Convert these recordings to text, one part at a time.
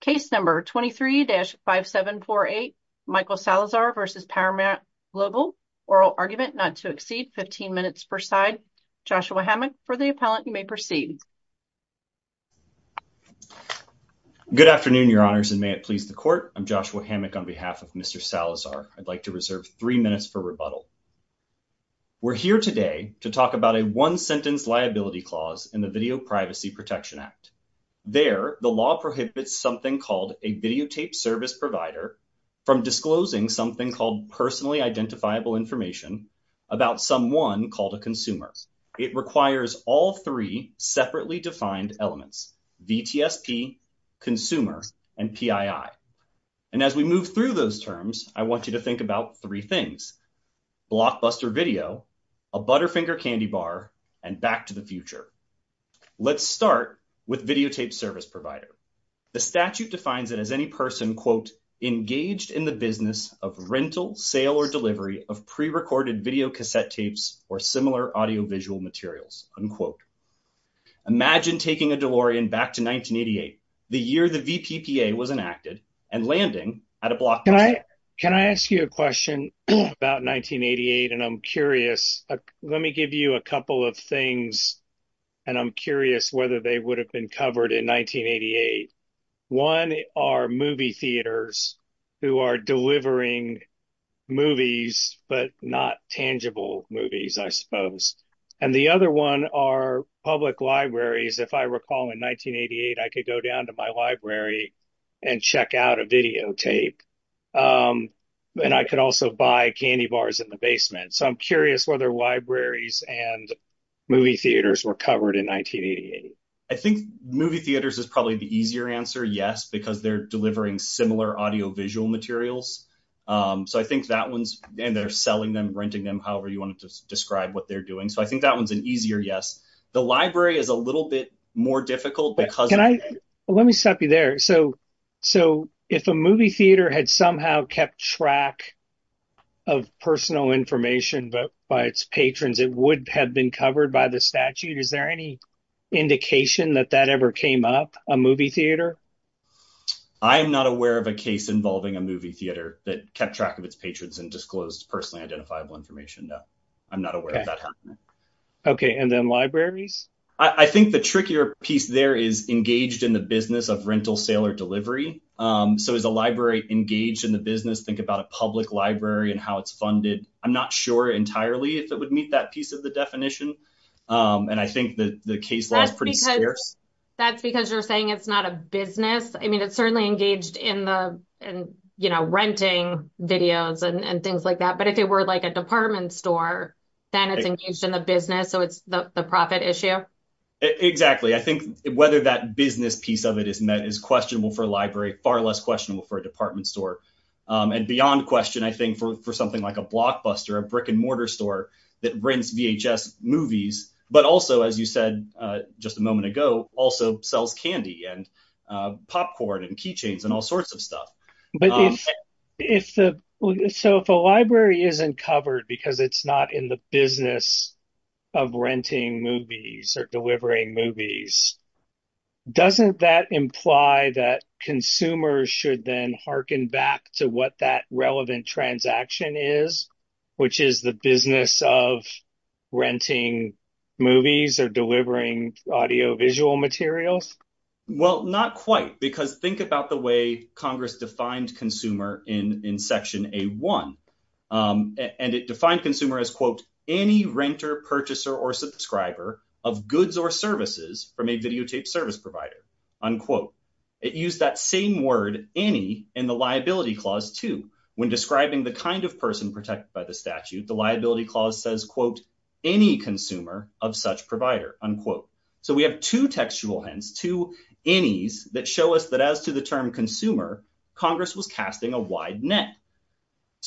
Case number 23-5748, Michael Salazar v. Paramount Global, oral argument not to exceed 15 minutes per side. Joshua Hammack for the appellant, you may proceed. Good afternoon, your honors, and may it please the court. I'm Joshua Hammack on behalf of Mr. Salazar. I'd like to reserve three minutes for rebuttal. We're here today to talk about a one videotaped service provider from disclosing something called personally identifiable information about someone called a consumer. It requires all three separately defined elements, VTSP, consumer, and PII. And as we move through those terms, I want you to think about three things, blockbuster video, a Butterfinger candy bar, and back to the future. Let's start with videotaped service provider. The statute defines it as any person, quote, engaged in the business of rental, sale, or delivery of pre-recorded videocassette tapes or similar audiovisual materials, unquote. Imagine taking a DeLorean back to 1988, the year the VPPA was enacted, and landing at a blockbuster. Can I ask you a question about 1988? And I'm curious, let me give you a couple of things, and I'm curious whether they would have been covered in 1988. One are movie theaters who are delivering movies, but not tangible movies, I suppose. And the other one are public libraries. If I recall in 1988, I could go down to my library and check out a and movie theaters were covered in 1988. I think movie theaters is probably the easier answer, yes, because they're delivering similar audiovisual materials. So I think that one's, and they're selling them, renting them, however you want to describe what they're doing. So I think that one's an easier yes. The library is a little bit more difficult because- Let me stop you there. So if a movie theater had somehow kept track of personal information by its patrons, it would have been covered by the statute. Is there any indication that that ever came up, a movie theater? I am not aware of a case involving a movie theater that kept track of its patrons and disclosed personally identifiable information. I'm not aware of that happening. Okay, and then libraries? I think the trickier piece there is engaged in the business of rental, sale, or So is a library engaged in the business? Think about a public library and how it's funded. I'm not sure entirely if it would meet that piece of the definition, and I think that the case- That's because you're saying it's not a business. I mean, it's certainly engaged in the renting videos and things like that, but if it were a department store, then it's engaged in the business, so it's the profit issue? Exactly. I think whether that business piece of it is met is questionable for a library, far less questionable for a department store. And beyond question, I think for something like a blockbuster, a brick and mortar store that rents VHS movies, but also, as you said just a moment ago, also sells candy and popcorn and keychains and all sorts of stuff. So if a library isn't covered because it's not in the business of renting movies or delivering movies, doesn't that imply that consumers should then harken back to what that relevant transaction is, which is the business of renting movies or delivering audiovisual materials? Well, not quite, because think about the way Congress defined consumer in section A1, and it defined consumer as, quote, any renter, purchaser, or subscriber of goods or services from a videotaped service provider, unquote. It used that same word, any, in the liability clause too. When describing the kind of person protected by the statute, the liability clause says, quote, any consumer of such provider, unquote. So we have two textual to anys that show us that as to the term consumer, Congress was casting a wide net.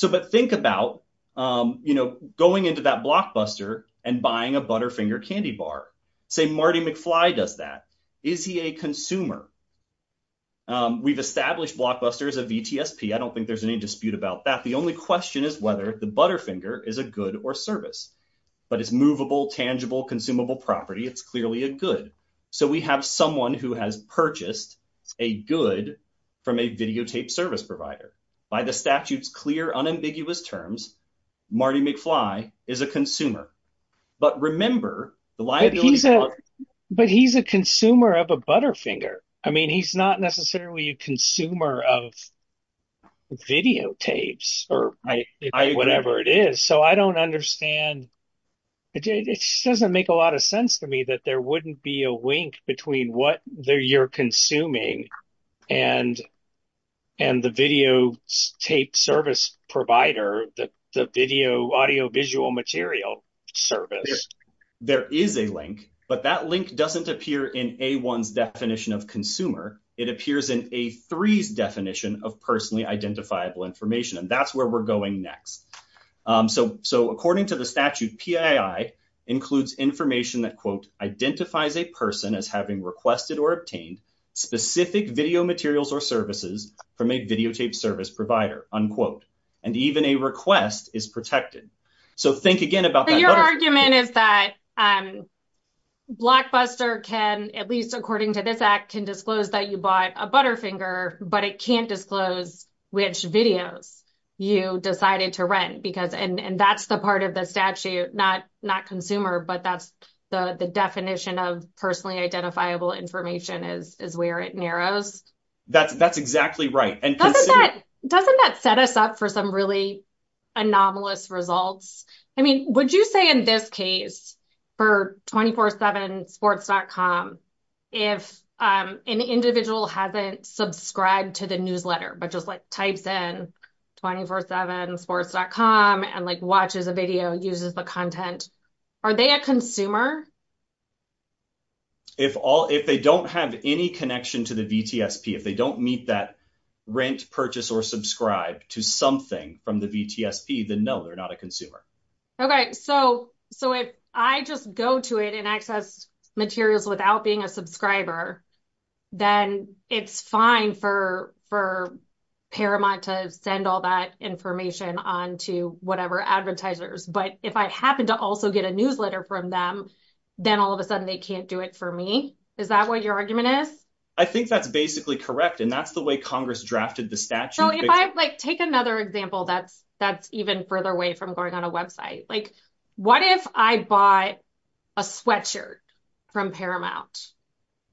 But think about going into that blockbuster and buying a Butterfinger candy bar. Say Marty McFly does that. Is he a consumer? We've established blockbuster as a VTSP. I don't think there's any dispute about that. The only question is whether the Butterfinger is a good or service. But it's movable, tangible, consumable property. It's clearly a good. So we have someone who has purchased a good from a videotaped service provider. By the statute's clear, unambiguous terms, Marty McFly is a consumer. But remember, the liability clause- But he's a consumer of a Butterfinger. I mean, he's not necessarily a consumer of videotapes or whatever it is. So I don't understand. It doesn't make a lot of sense to me that there wouldn't be a link between what you're consuming and the videotaped service provider, the audiovisual material service. There is a link, but that link doesn't appear in A1's definition of consumer. It appears in A3's definition of personally identifiable information. And that's where we're going next. So according to the statute, PII includes information that, quote, identifies a person as having requested or obtained specific video materials or services from a videotaped service provider, unquote. And even a request is protected. So think again about that. But your argument is that Blockbuster can, at least according to this act, can disclose that you bought a Butterfinger, but it can't disclose which videos you decided to rent. And that's the part of the statute, not consumer, but that's the definition of personally identifiable information is where it narrows. That's exactly right. Doesn't that set us up for some really anomalous results? I mean, would you say in this case for 247sports.com, if an individual hasn't subscribed to the newsletter, but just like types in 247sports.com and like watches a video, uses the content, are they a consumer? If they don't have any something from the VTSP, then no, they're not a consumer. Okay. So if I just go to it and access materials without being a subscriber, then it's fine for Paramount to send all that information on to whatever advertisers. But if I happen to also get a newsletter from them, then all of a sudden they can't do it for me. Is that what your argument is? I think that's basically correct. And that's the way Congress drafted the statute. Take another example that's even further away from going on a website. What if I bought a sweatshirt from Paramount?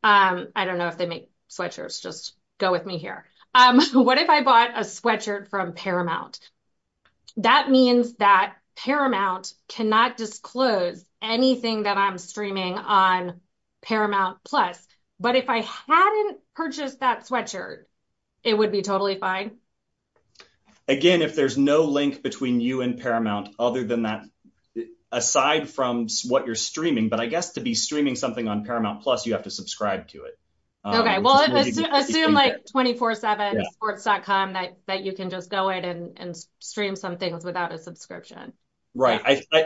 I don't know if they make sweatshirts, just go with me here. What if I bought a sweatshirt from Paramount? That means that Paramount cannot disclose anything that I'm streaming on Paramount Plus. But if I hadn't purchased that sweatshirt, it would be totally fine? Again, if there's no link between you and Paramount other than that, aside from what you're streaming, but I guess to be streaming something on Paramount Plus, you have to subscribe to it. Okay. Well, assume like 24 seven sports.com that you can just go in and stream some things without a subscription. Right.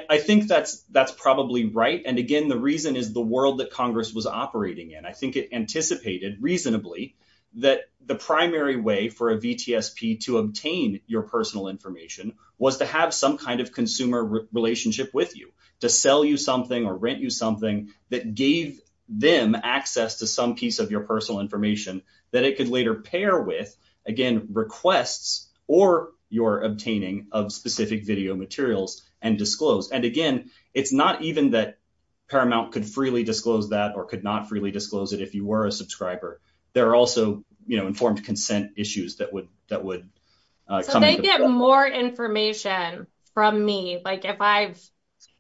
I think that's probably right. And again, the reason is the world that Congress was operating in, I think it anticipated reasonably that the primary way for a VTSP to obtain your personal information was to have some kind of consumer relationship with you to sell you something or rent you something that gave them access to some piece of your personal information that it could later pair with again, requests or your obtaining of specific video materials and disclose. And again, it's not even that Paramount could freely disclose that or could not freely disclose it. If you were a subscriber, there are also, you know, informed consent issues that would, that would, uh, So they get more information from me. Like if I've,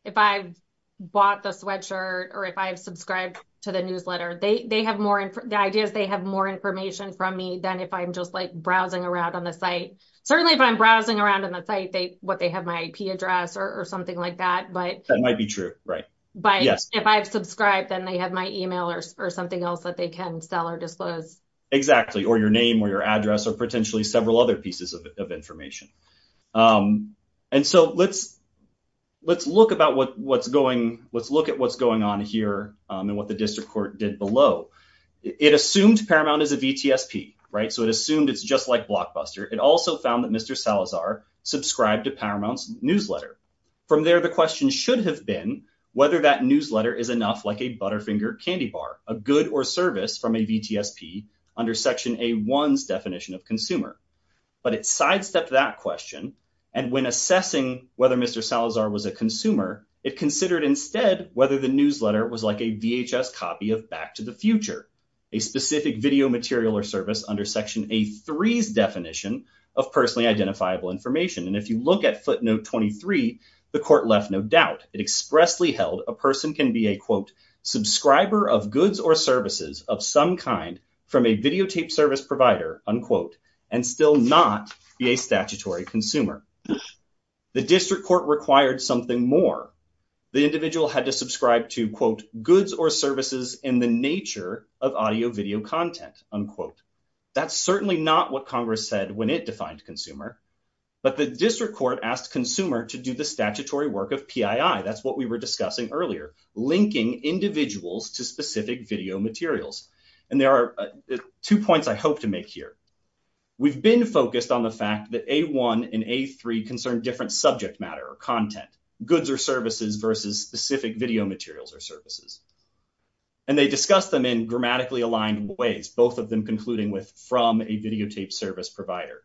if I bought the sweatshirt or if I've subscribed to the newsletter, they, they have more, the idea is they have more information from me than if I'm just like browsing around on the site. Certainly if I'm browsing around on the site, they, what, they have my IP address or something like that, but that might be true. Right. But if I've subscribed, then they have my email or something else that they can sell or disclose. Exactly. Or your name or your address or potentially several other pieces of information. Um, and so let's, let's look about what, what's going, let's look at what's going on here. Um, and what the district court did below it assumed Paramount is a VTSP, right? So it assumed it's just like Blockbuster. It also found that Mr. Salazar subscribed to Paramount's newsletter. From there, the question should have been whether that newsletter is enough like a Butterfinger candy bar, a good or service from a VTSP under section a one's definition of consumer, but it sidestepped that question. And when assessing whether Mr. Salazar was a consumer, it considered instead, whether the newsletter was like a VHS copy of back to the future, a specific video material or service under section a three's definition of personally identifiable information. And if you look at footnote 23, the court left, no doubt it expressly held a person can be a quote, subscriber of goods or services of some kind from a videotape service provider, unquote, and still not be a statutory consumer. The district court required something more. The individual had to subscribe to quote goods or services in the nature of audio video content, unquote. That's certainly not what Congress said when it defined consumer, but the district court asked consumer to do the statutory work of PII. That's what we were discussing earlier, linking individuals to specific video materials. And there are two points I hope to make here. We've been focused on the fact that a one and a three concerned different subject matter or content goods or services versus specific video materials or services. And they discuss them in grammatically aligned ways, both of them concluding with from a videotape service provider.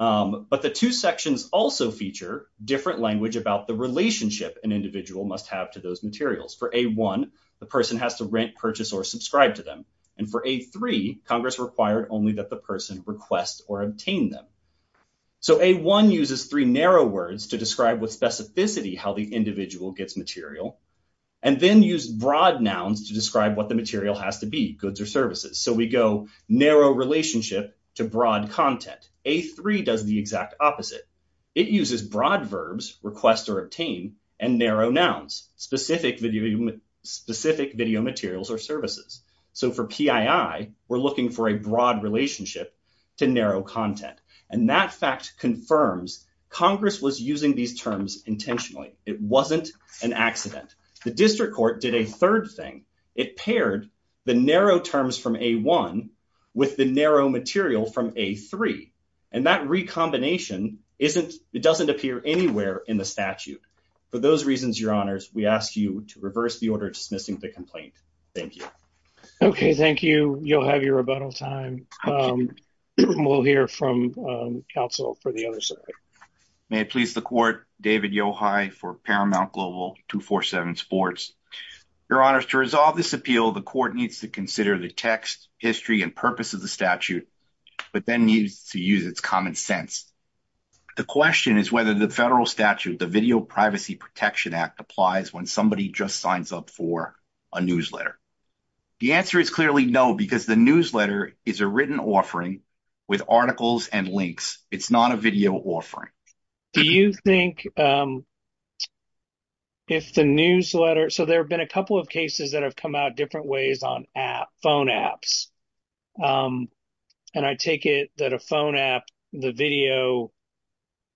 But the two sections also feature different language about the relationship an individual must have to those materials for a one, the person has to rent, purchase or subscribe to them. And for a three Congress required only that the person request or obtain them. So a one uses three narrow words to specificity how the individual gets material and then use broad nouns to describe what the material has to be goods or services. So we go narrow relationship to broad content. A three does the exact opposite. It uses broad verbs request or obtain and narrow nouns, specific video materials or services. So for PII we're looking for a broad relationship to narrow content. And that fact confirms Congress was using these terms intentionally. It wasn't an accident. The district court did a third thing. It paired the narrow terms from a one with the narrow material from a three. And that recombination isn't, it doesn't appear anywhere in the statute. For those reasons, your honors, we ask you to reverse the order dismissing the complaint. Thank you. Okay, thank you. You'll have your rebuttal time. We'll hear from counsel for the other side. May it please the court, David Yohai for Paramount Global 247 sports. Your honors to resolve this appeal, the court needs to consider the text, history and purpose of the statute, but then needs to use its common sense. The question is whether the federal statute, the Video Privacy Protection Act applies when somebody just signs up for a newsletter. The answer is clearly no, because the newsletter is a written offering with articles and links. It's not a video offering. Do you think if the newsletter, so there have been a couple of cases that have come out different ways on phone apps. And I take it that a phone app, the video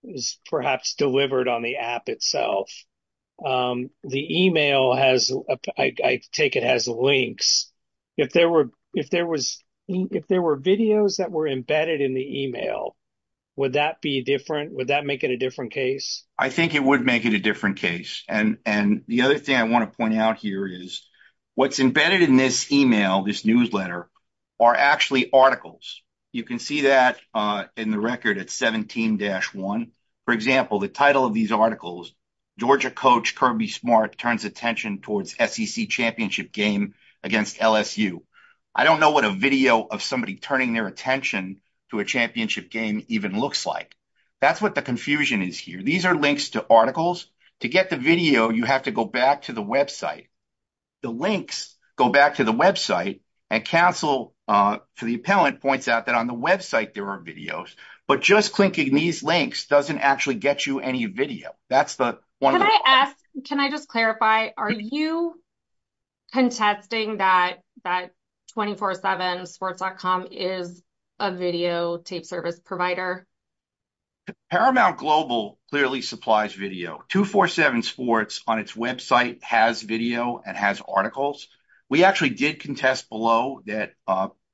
is perhaps delivered on the app itself. The email has, I take it has links. If there were videos that were embedded in the email, would that be different? Would that make it a different case? I think it would make it a different case. And the other thing I want to point out here is what's embedded in this email, this newsletter, are actually articles. You can see that in the record at 17-1. For example, the title of these articles, Georgia coach Kirby Smart turns attention towards SEC championship game against LSU. I don't know what a video of somebody turning their attention to a championship game even looks like. That's what the confusion is here. These are links to articles. To get the video, you have to go back to the website. The links go back to the website and counsel to the appellant points out that on the website there are videos, but just clinking these links doesn't actually get you any video. Can I just clarify, are you contesting that 24-7 sports.com is a video tape service provider? Paramount Global clearly supplies video. 24-7 sports on its website has video and has articles. We actually did contest below that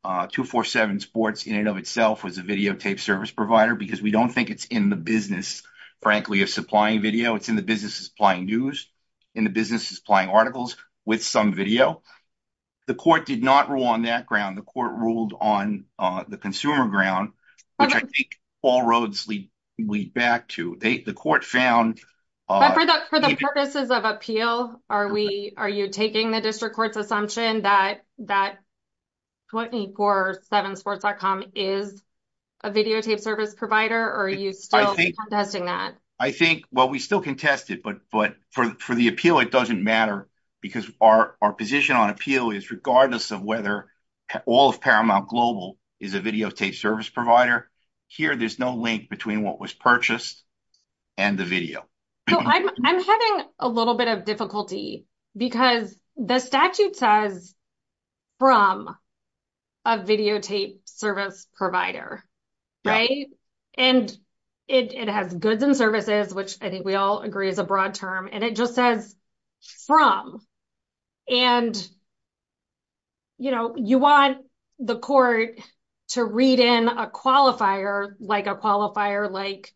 24-7 sports in itself was a video tape service provider because we don't think it's in the business, frankly, of supplying video. It's in the business of supplying news, in the business of supplying articles with some video. The court did not rule on that ground. The court ruled on the consumer ground, which I think all roads lead back to. The court found... But for the purposes of appeal, are you taking the district court's assumption that 24-7 sports.com is a video tape service provider or are you still contesting that? I think, well, we still contest it, but for the appeal it doesn't matter because our position on appeal is regardless of whether all of Paramount Global is a video tape service provider, here there's no link between what was purchased and the video. I'm having a little bit of difficulty because the statute says from a video tape service provider, right? And it has goods and services, which I think we all agree is a broad term, and it just says from. And you want the court to read in a qualifier, like a qualifier, like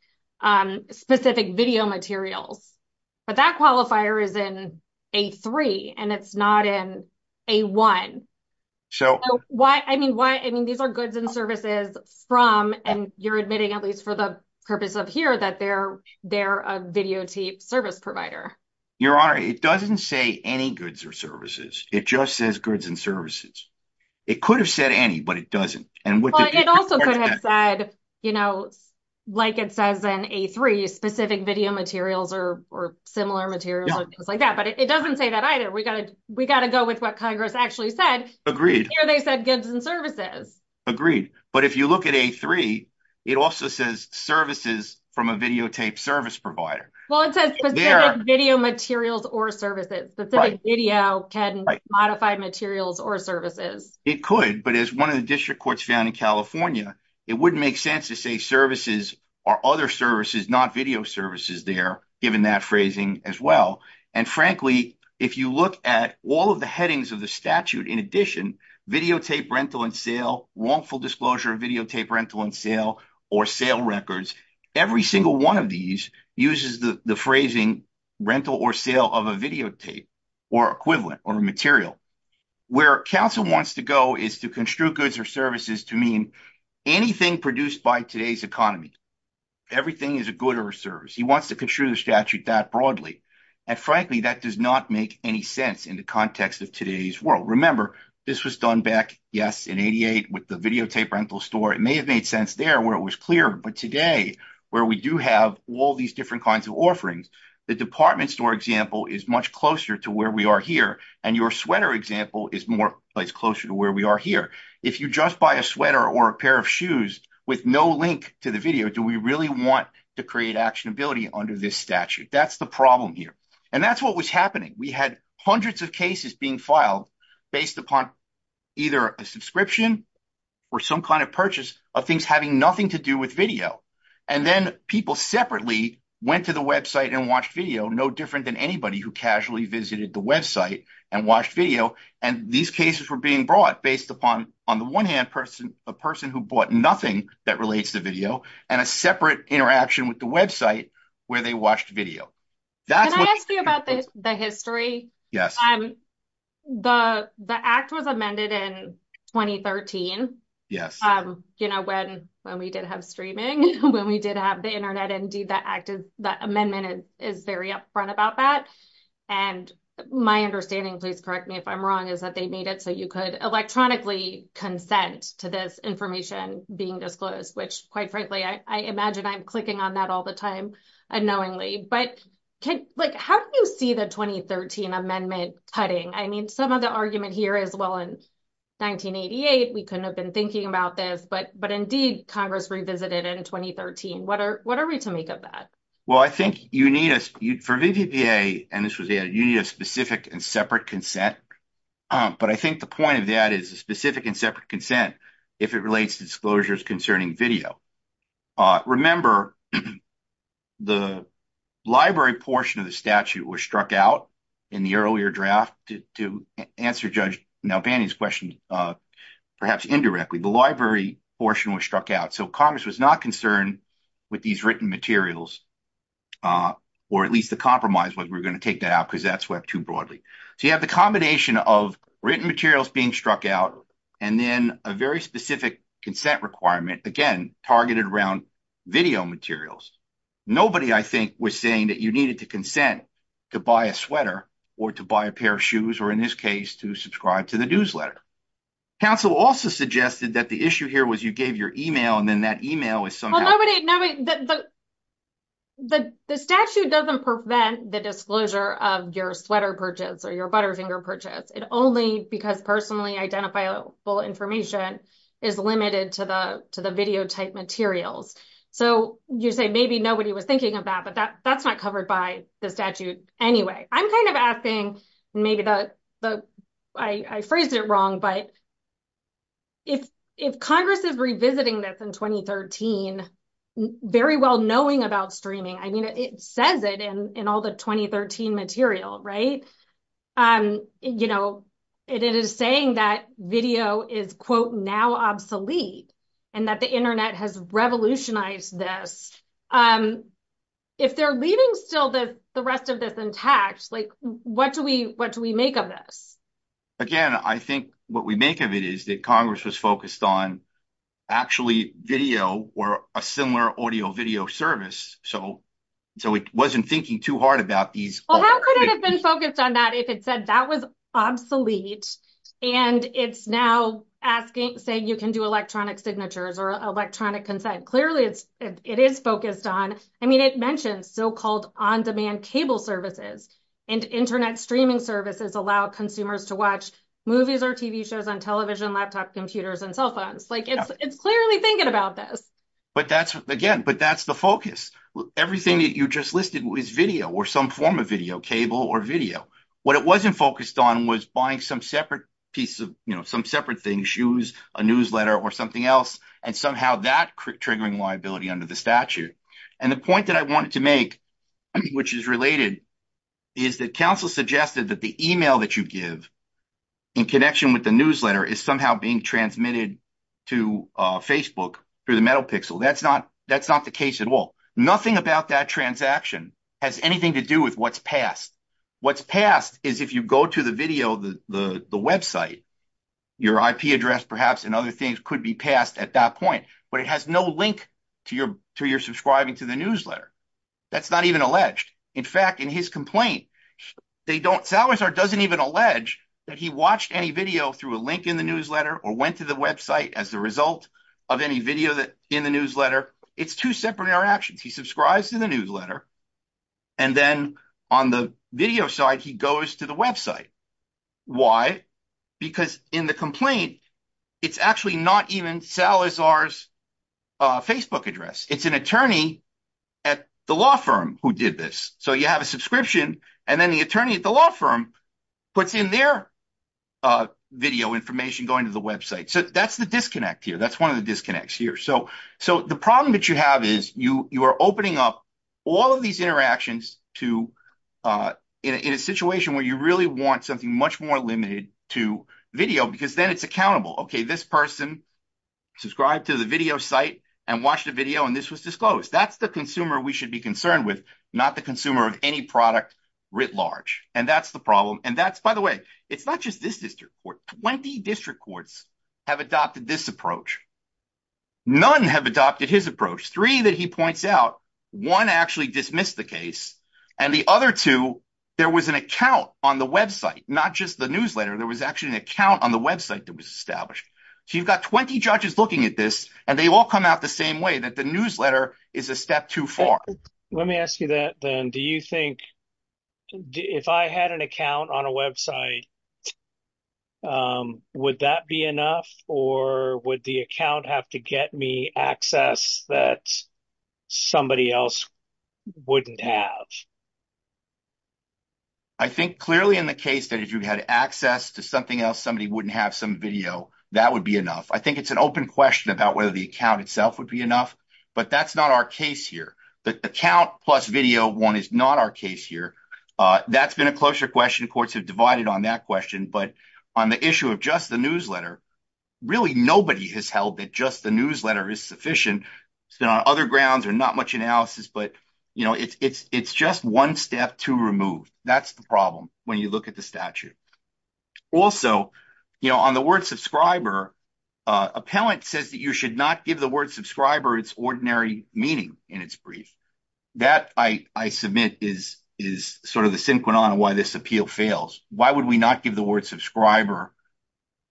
specific video materials, but that qualifier is in A3 and it's not in A1. So why? I mean, why? I mean, these are goods and services from, and you're admitting at least for the purpose of here that they're a video tape service provider. Your Honor, it doesn't say any goods or services. It just says goods and services. It could have said any, but it doesn't. It also could have said, like it says in A3, specific video materials or similar materials or things like that. But it doesn't say that either. We got to go with what Congress actually said. Here they said goods and services. Agreed. But if you look at A3, it also says services from a video tape service provider. Well, it says specific video materials or services. Specific video can modify materials or services. It could, but as one of the district court's in California, it wouldn't make sense to say services or other services, not video services there, given that phrasing as well. And frankly, if you look at all of the headings of the statute, in addition, videotape rental and sale, wrongful disclosure of videotape rental and sale, or sale records, every single one of these uses the phrasing rental or sale of a videotape or equivalent or material. Where counsel wants to go is to construe goods or services to mean anything produced by today's economy. Everything is a good or a service. He wants to construe the statute that broadly. And frankly, that does not make any sense in the context of today's world. Remember, this was done back, yes, in 88 with the videotape rental store. It may have made sense there where it was clear. But today, where we do have all these different kinds of offerings, the department store example is much closer to where we are here. And your sweater example is more place closer to where we are here. If you just buy a sweater or a pair of shoes with no link to the video, do we really want to create actionability under this statute? That's the problem here. And that's what was happening. We had hundreds of cases being filed based upon either a subscription or some kind of purchase of things having nothing to do with video. And then people separately went to the website and watched video no different than anybody who casually visited the website and watched video. And these cases were being brought based upon, on the one hand, a person who bought nothing that relates to video and a separate interaction with the website where they watched video. Can I ask you about the history? Yes. The act was amended in 2013 when we did have streaming, when we did have the internet. Indeed, the amendment is very upfront about that. And my understanding, please correct me if I'm wrong, is that they made it so you could electronically consent to this information being disclosed, which quite frankly, I imagine I'm clicking on that all the time unknowingly. But how do you the 2013 amendment cutting? I mean, some of the argument here is, well, in 1988, we couldn't have been thinking about this. But indeed, Congress revisited it in 2013. What are we to make of that? Well, I think you need a specific and separate consent. But I think the point of that is a specific and separate consent if it relates to disclosures concerning video. Remember, the library portion of the statute was struck out in the earlier draft to answer Judge Nalbany's question, perhaps indirectly, the library portion was struck out. So Congress was not concerned with these written materials, or at least the compromise was we're going to take that out because that swept too broadly. So you have the combination of written materials being struck out, and then a very specific consent requirement, again, targeted around video materials. Nobody, I think, was saying that you needed to consent to buy a sweater, or to buy a pair of shoes, or in this case, to subscribe to the newsletter. Council also suggested that the issue here was you gave your email and then that email is somehow... Well, the statute doesn't prevent the disclosure of your sweater purchase or your Butterfinger purchase. It only, because personally identifiable information is limited to the video type materials. So you say, maybe nobody was thinking of that, but that's not covered by the statute anyway. I'm kind of asking, maybe I phrased it wrong, but if Congress is revisiting this in 2013, very well knowing about streaming, it says it in all the 2013 material. It is saying that video is, quote, now obsolete, and that the internet has revolutionized this. If they're leaving still the rest of this intact, what do we make of this? Again, I think what we make of it is that Congress was focused on actually video or a similar audio video service. So it wasn't thinking too hard about these- Well, how could it have been focused on that if it said that was obsolete and it's now saying you can do electronic signatures or electronic consent? Clearly, it is focused on... I mean, it mentioned so-called on-demand cable services and internet streaming services allow consumers to watch movies or TV shows on television, laptop computers, and cell phones. Like, it's clearly thinking about this. But that's, again, but that's the focus. Everything that you just listed was video or some form of video cable or video. What it wasn't focused on was buying some separate piece of, you know, some separate thing, shoes, a newsletter, or something else, and somehow that triggering liability under the statute. And the point that I wanted to make, which is related, is that counsel suggested that the email that you give in connection with the newsletter is somehow being transmitted to Facebook through the metal pixel. That's not the case at all. Nothing about that transaction has anything to do with what's passed. What's passed is if you go to the video, the website, your IP address, perhaps, and other things could be passed at that point, but it has no link to your subscribing to the newsletter. That's not even alleged. In fact, in his complaint, Salazar doesn't even allege that he watched any video through a link in the newsletter or went to the website as a result of any video in the newsletter. It's two separate interactions. He subscribes to the newsletter, and then on the video side, he goes to the website. Why? Because in the complaint, it's actually not even Salazar's Facebook address. It's an attorney at the law firm who did this. So you have a subscription, and then the attorney at the law firm puts in their video information going to the website. So that's the disconnect here. That's one of the disconnects here. So the problem that you have is you are opening up all of these interactions in a situation where you really want something much more limited to video because then it's accountable. Okay, this person subscribed to the video site and watched a video, and this was disclosed. That's the consumer we should be concerned with, not the consumer of any product writ large. And that's the problem. And that's, by the way, it's not just this district court. Twenty district courts have adopted this approach. None have adopted his approach. Three that he points out. One actually dismissed the case, and the other two, there was an account on the website, not just the newsletter. There was actually an account on the website that was established. So you've got 20 judges looking at this, and they all come out the same way, that the newsletter is a step too far. Let me ask you that then. Do you think, if I had an account on a website, would that be enough, or would the account have to get me access that somebody else wouldn't have? I think clearly in the case that if you had access to something else, somebody wouldn't have some video, that would be enough. I think it's an open question about whether the account itself would be enough, but that's not our case here. The account plus video one is not our case here. That's been a closer question. Courts have divided on that question, but on the issue of just the newsletter, really nobody has held that just the newsletter is sufficient. It's been on other grounds or not much analysis, but it's just one step too removed. That's the problem when you look at the statute. Also, on the word subscriber, appellant says that you should not give the word subscriber its ordinary meaning in its brief. That I submit is sort of the synchronon of why this appeal fails. Why would we not give the word subscriber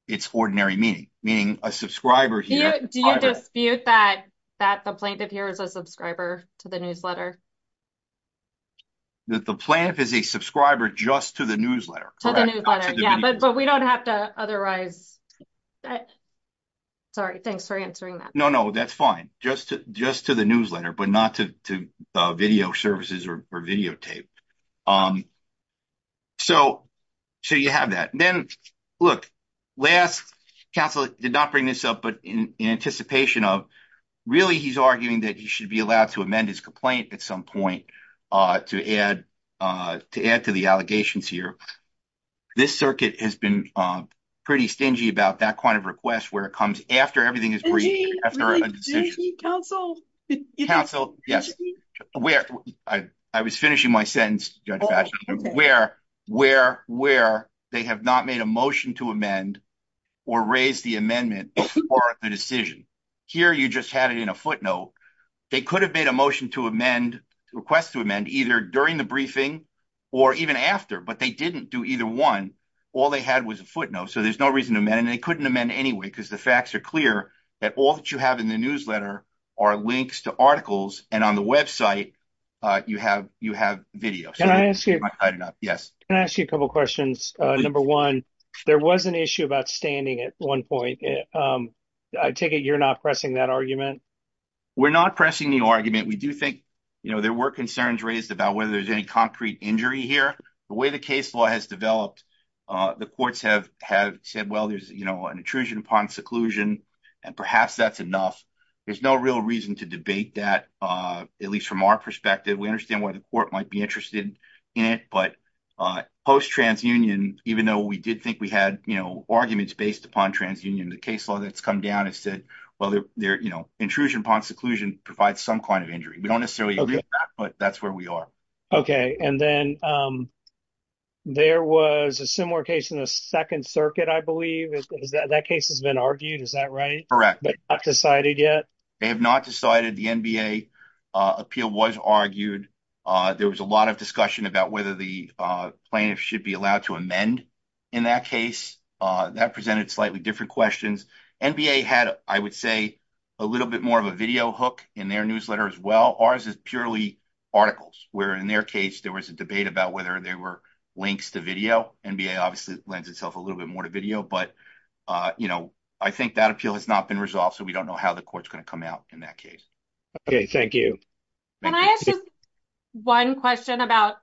its ordinary meaning, meaning a subscriber here? Do you dispute that the plaintiff here is a subscriber to the newsletter? The plaintiff is a subscriber just to the newsletter. Yeah, but we don't have to otherwise. Sorry, thanks for answering that. No, no, that's fine. Just to the newsletter, but not to video services or videotape. So, you have that. Then, look, last counsel did not bring this up, but in anticipation of, really he's arguing that he should be allowed to amend his complaint at some point to add to the allegations here. This circuit has been pretty stingy about that kind of request where it comes after everything is briefed after a decision. Counsel? Counsel, yes. I was finishing my sentence, where they have not made a motion to amend or raise the amendment before the decision. Here, you just had it in a footnote. They could have made a motion to amend, request to amend either during the briefing or even after, but they didn't do either one. All they had was a footnote, so there's no reason to amend. They couldn't amend anyway because the facts are clear that all that you have in the newsletter are links to articles, and on the website, you have videos. Can I ask you a couple questions? Number one, there was an issue about standing at one point. I take it you're not pressing that argument? We're not pressing the argument. We do think there were concerns raised about whether there's any concrete injury here. The way the case law has developed, the courts have said, well, there's an intrusion upon seclusion, and perhaps that's enough. There's no real reason to debate that, at least from our perspective. We understand why the court might be interested in it, but post-transunion, even though we did think we had arguments based upon transunion, the case law that's come down has said, well, intrusion upon seclusion provides some kind of injury. We don't necessarily agree with that, but that's where we are. Okay, and then there was a similar case in the Second Circuit, I believe. That case has been argued, is that right? Correct. But not decided yet? They have not decided. The NBA appeal was argued. There was a lot of discussion about whether the plaintiff should be allowed to amend in that case. That presented slightly different questions. NBA had, I would say, a little bit more of a video hook in their newsletter as well. Ours is purely articles, where in their case, there was a debate about whether there were links to video. NBA obviously lends itself a little bit more to video, but I think that appeal has not been resolved, so we don't know how the court's going to come out in that case. Okay, thank you. Can I ask you one question about,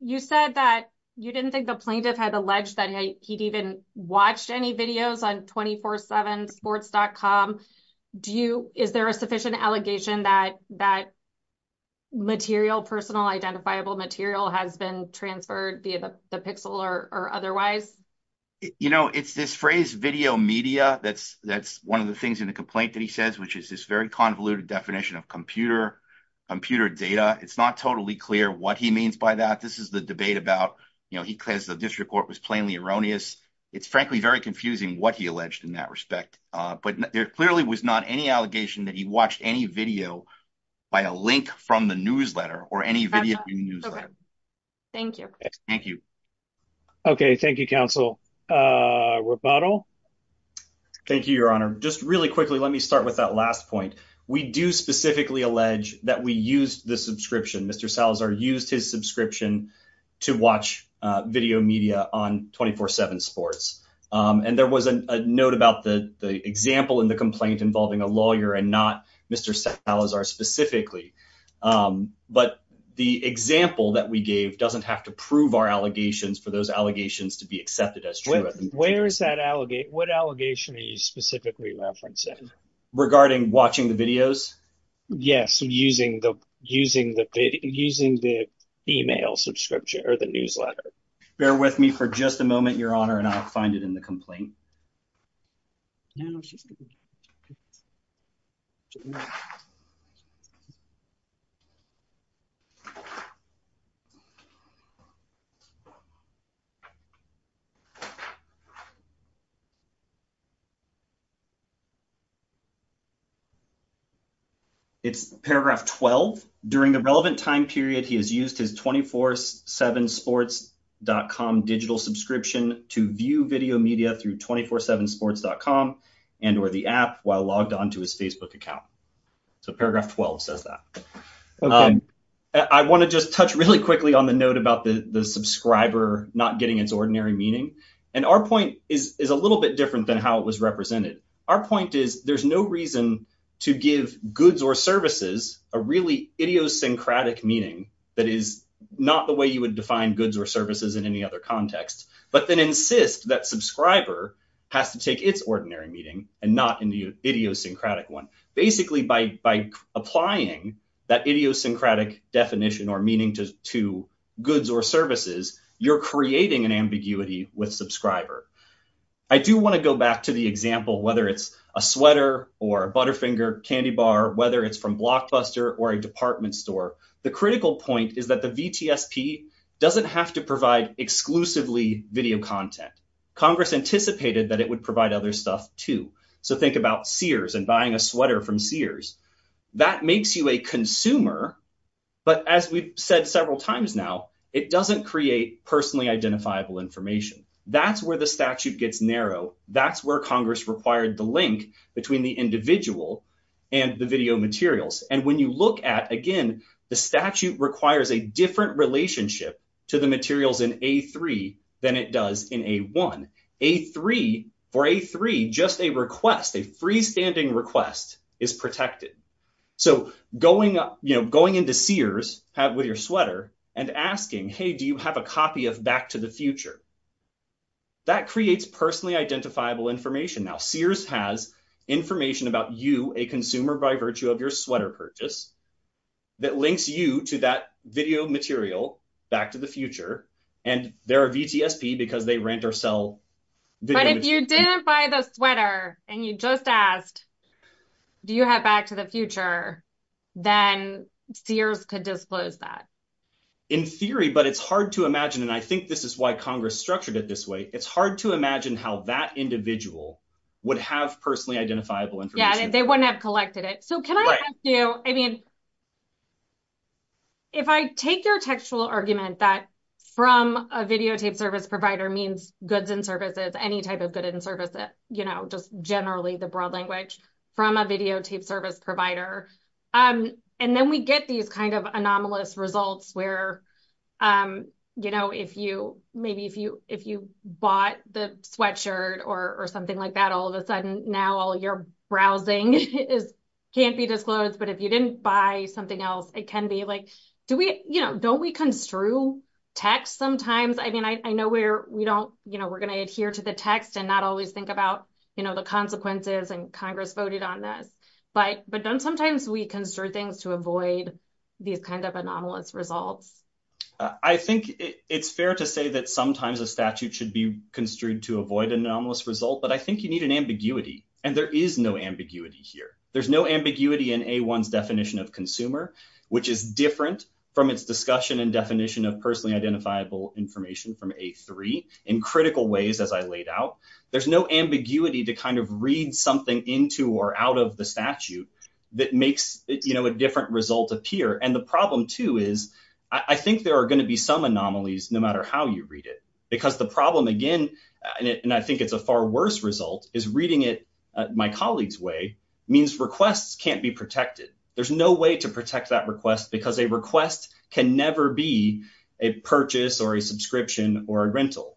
you said that you didn't think the plaintiff had alleged that he'd even watched any videos on 247sports.com. Is there a sufficient allegation that material, personal identifiable material, has been transferred via the pixel or otherwise? It's this phrase, video media, that's one of the things in the complaint that he says, which is this very convoluted definition of computer data. It's not totally clear what means by that. This is the debate about, he claims the district court was plainly erroneous. It's frankly very confusing what he alleged in that respect, but there clearly was not any allegation that he watched any video by a link from the newsletter or any video in the newsletter. Thank you. Thank you. Okay, thank you, counsel. Rapato? Thank you, your honor. Just really quickly, let me start with that last point. We do specifically allege that we used the subscription, Mr. Salazar used his subscription to watch video media on 247sports.com. And there was a note about the example in the complaint involving a lawyer and not Mr. Salazar specifically. But the example that we gave doesn't have to prove our allegations for those allegations to be accepted as true. Where is that allegation? What allegation are you specifically referencing? Regarding watching the videos? Yes, using the email subscription or the newsletter. Bear with me for just a moment, your honor, and I'll find it in the complaint. It's paragraph 12. During the relevant time period, he has used his 247sports.com digital subscription to view video media through 247sports.com and or the app while logged on to his Facebook account. So paragraph 12 says that. I want to just touch really quickly on the note about the subscriber not getting its ordinary meaning. And our point is a little bit different than how it was represented. Our point is there's no reason to give goods or services a really idiosyncratic meaning that is not the way you would define goods or services in any other context, but then insist that subscriber has to take its ordinary meaning and not in the idiosyncratic one. Basically, by applying that idiosyncratic definition or meaning to goods or services, you're creating an ambiguity with subscriber. I do want to go back to the example, whether it's a sweater or a Butterfinger candy bar, whether it's from Blockbuster or a department store. The critical point is that the VTSP doesn't have to provide exclusively video content. Congress anticipated that it would provide other stuff too. So think about Sears and buying a sweater from Sears. That makes you a consumer. But as we've said several times now, it doesn't create personally identifiable information. That's where the statute gets narrow. That's where Congress required the link between the individual and the video materials. And when you look at, again, the statute requires a different relationship to the materials in A3 than it in A1. For A3, just a request, a freestanding request is protected. So going into Sears with your sweater and asking, hey, do you have a copy of Back to the Future? That creates personally identifiable information. Now, Sears has information about you, a consumer, by virtue of your sweater purchase that links you to that video material, Back to the Future. And they're a VTSP because they rent or sell video material. But if you didn't buy the sweater and you just asked, do you have Back to the Future? Then Sears could disclose that. In theory, but it's hard to imagine. And I think this is why Congress structured it this way. It's hard to imagine how that individual would have personally identifiable information. Yeah, they wouldn't have collected it. So can I ask you, I mean, if I take your textual argument that from a videotape service provider means goods and services, any type of goods and services, just generally the broad language, from a videotape service provider, and then we get these kind of anomalous results where maybe if you bought the sweatshirt or something like that, all of a sudden now all your browsing can't be disclosed. But if you didn't buy something else, it can be like, don't we construe text sometimes? I mean, I know we're going to adhere to the text and not always think about the consequences and Congress voted on this. But don't sometimes we construe things to avoid these kinds of anomalous results? I think it's fair to say that sometimes a statute should be construed to avoid an anomalous result. But I think you need an ambiguity. And there is no ambiguity here. There's no ambiguity in a one's definition of consumer, which is different from its discussion and definition of personally identifiable information from a three in critical ways. As I laid out, there's no ambiguity to kind of read something into or out of the statute that makes a different result appear. And the problem too, is I think there are going to be some anomalies no matter how you read it, because the problem again, and I think it's a far worse result, is reading it my colleague's way means requests can't be protected. There's no way to protect that request because a request can never be a purchase or a subscription or a rental.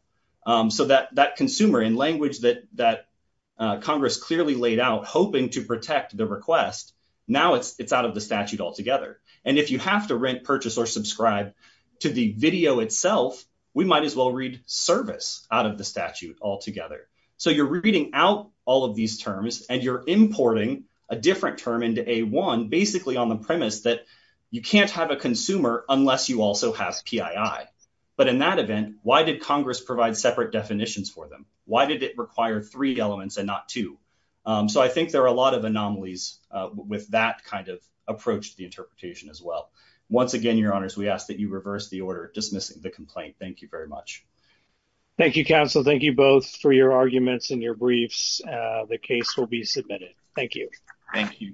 So that consumer in language that Congress clearly laid out, hoping to protect the request, now it's out of the statute altogether. And if you have to purchase or subscribe to the video itself, we might as well read service out of the statute altogether. So you're reading out all of these terms and you're importing a different term into A1 basically on the premise that you can't have a consumer unless you also have PII. But in that event, why did Congress provide separate definitions for them? Why did it require three elements and not two? So I think there are a lot of anomalies with that kind of approach to the interpretation as well. Once again, your honors, we ask that you reverse the order dismissing the complaint. Thank you very much. Thank you, counsel. Thank you both for your arguments and your briefs. The case will be submitted. Thank you. Thank you.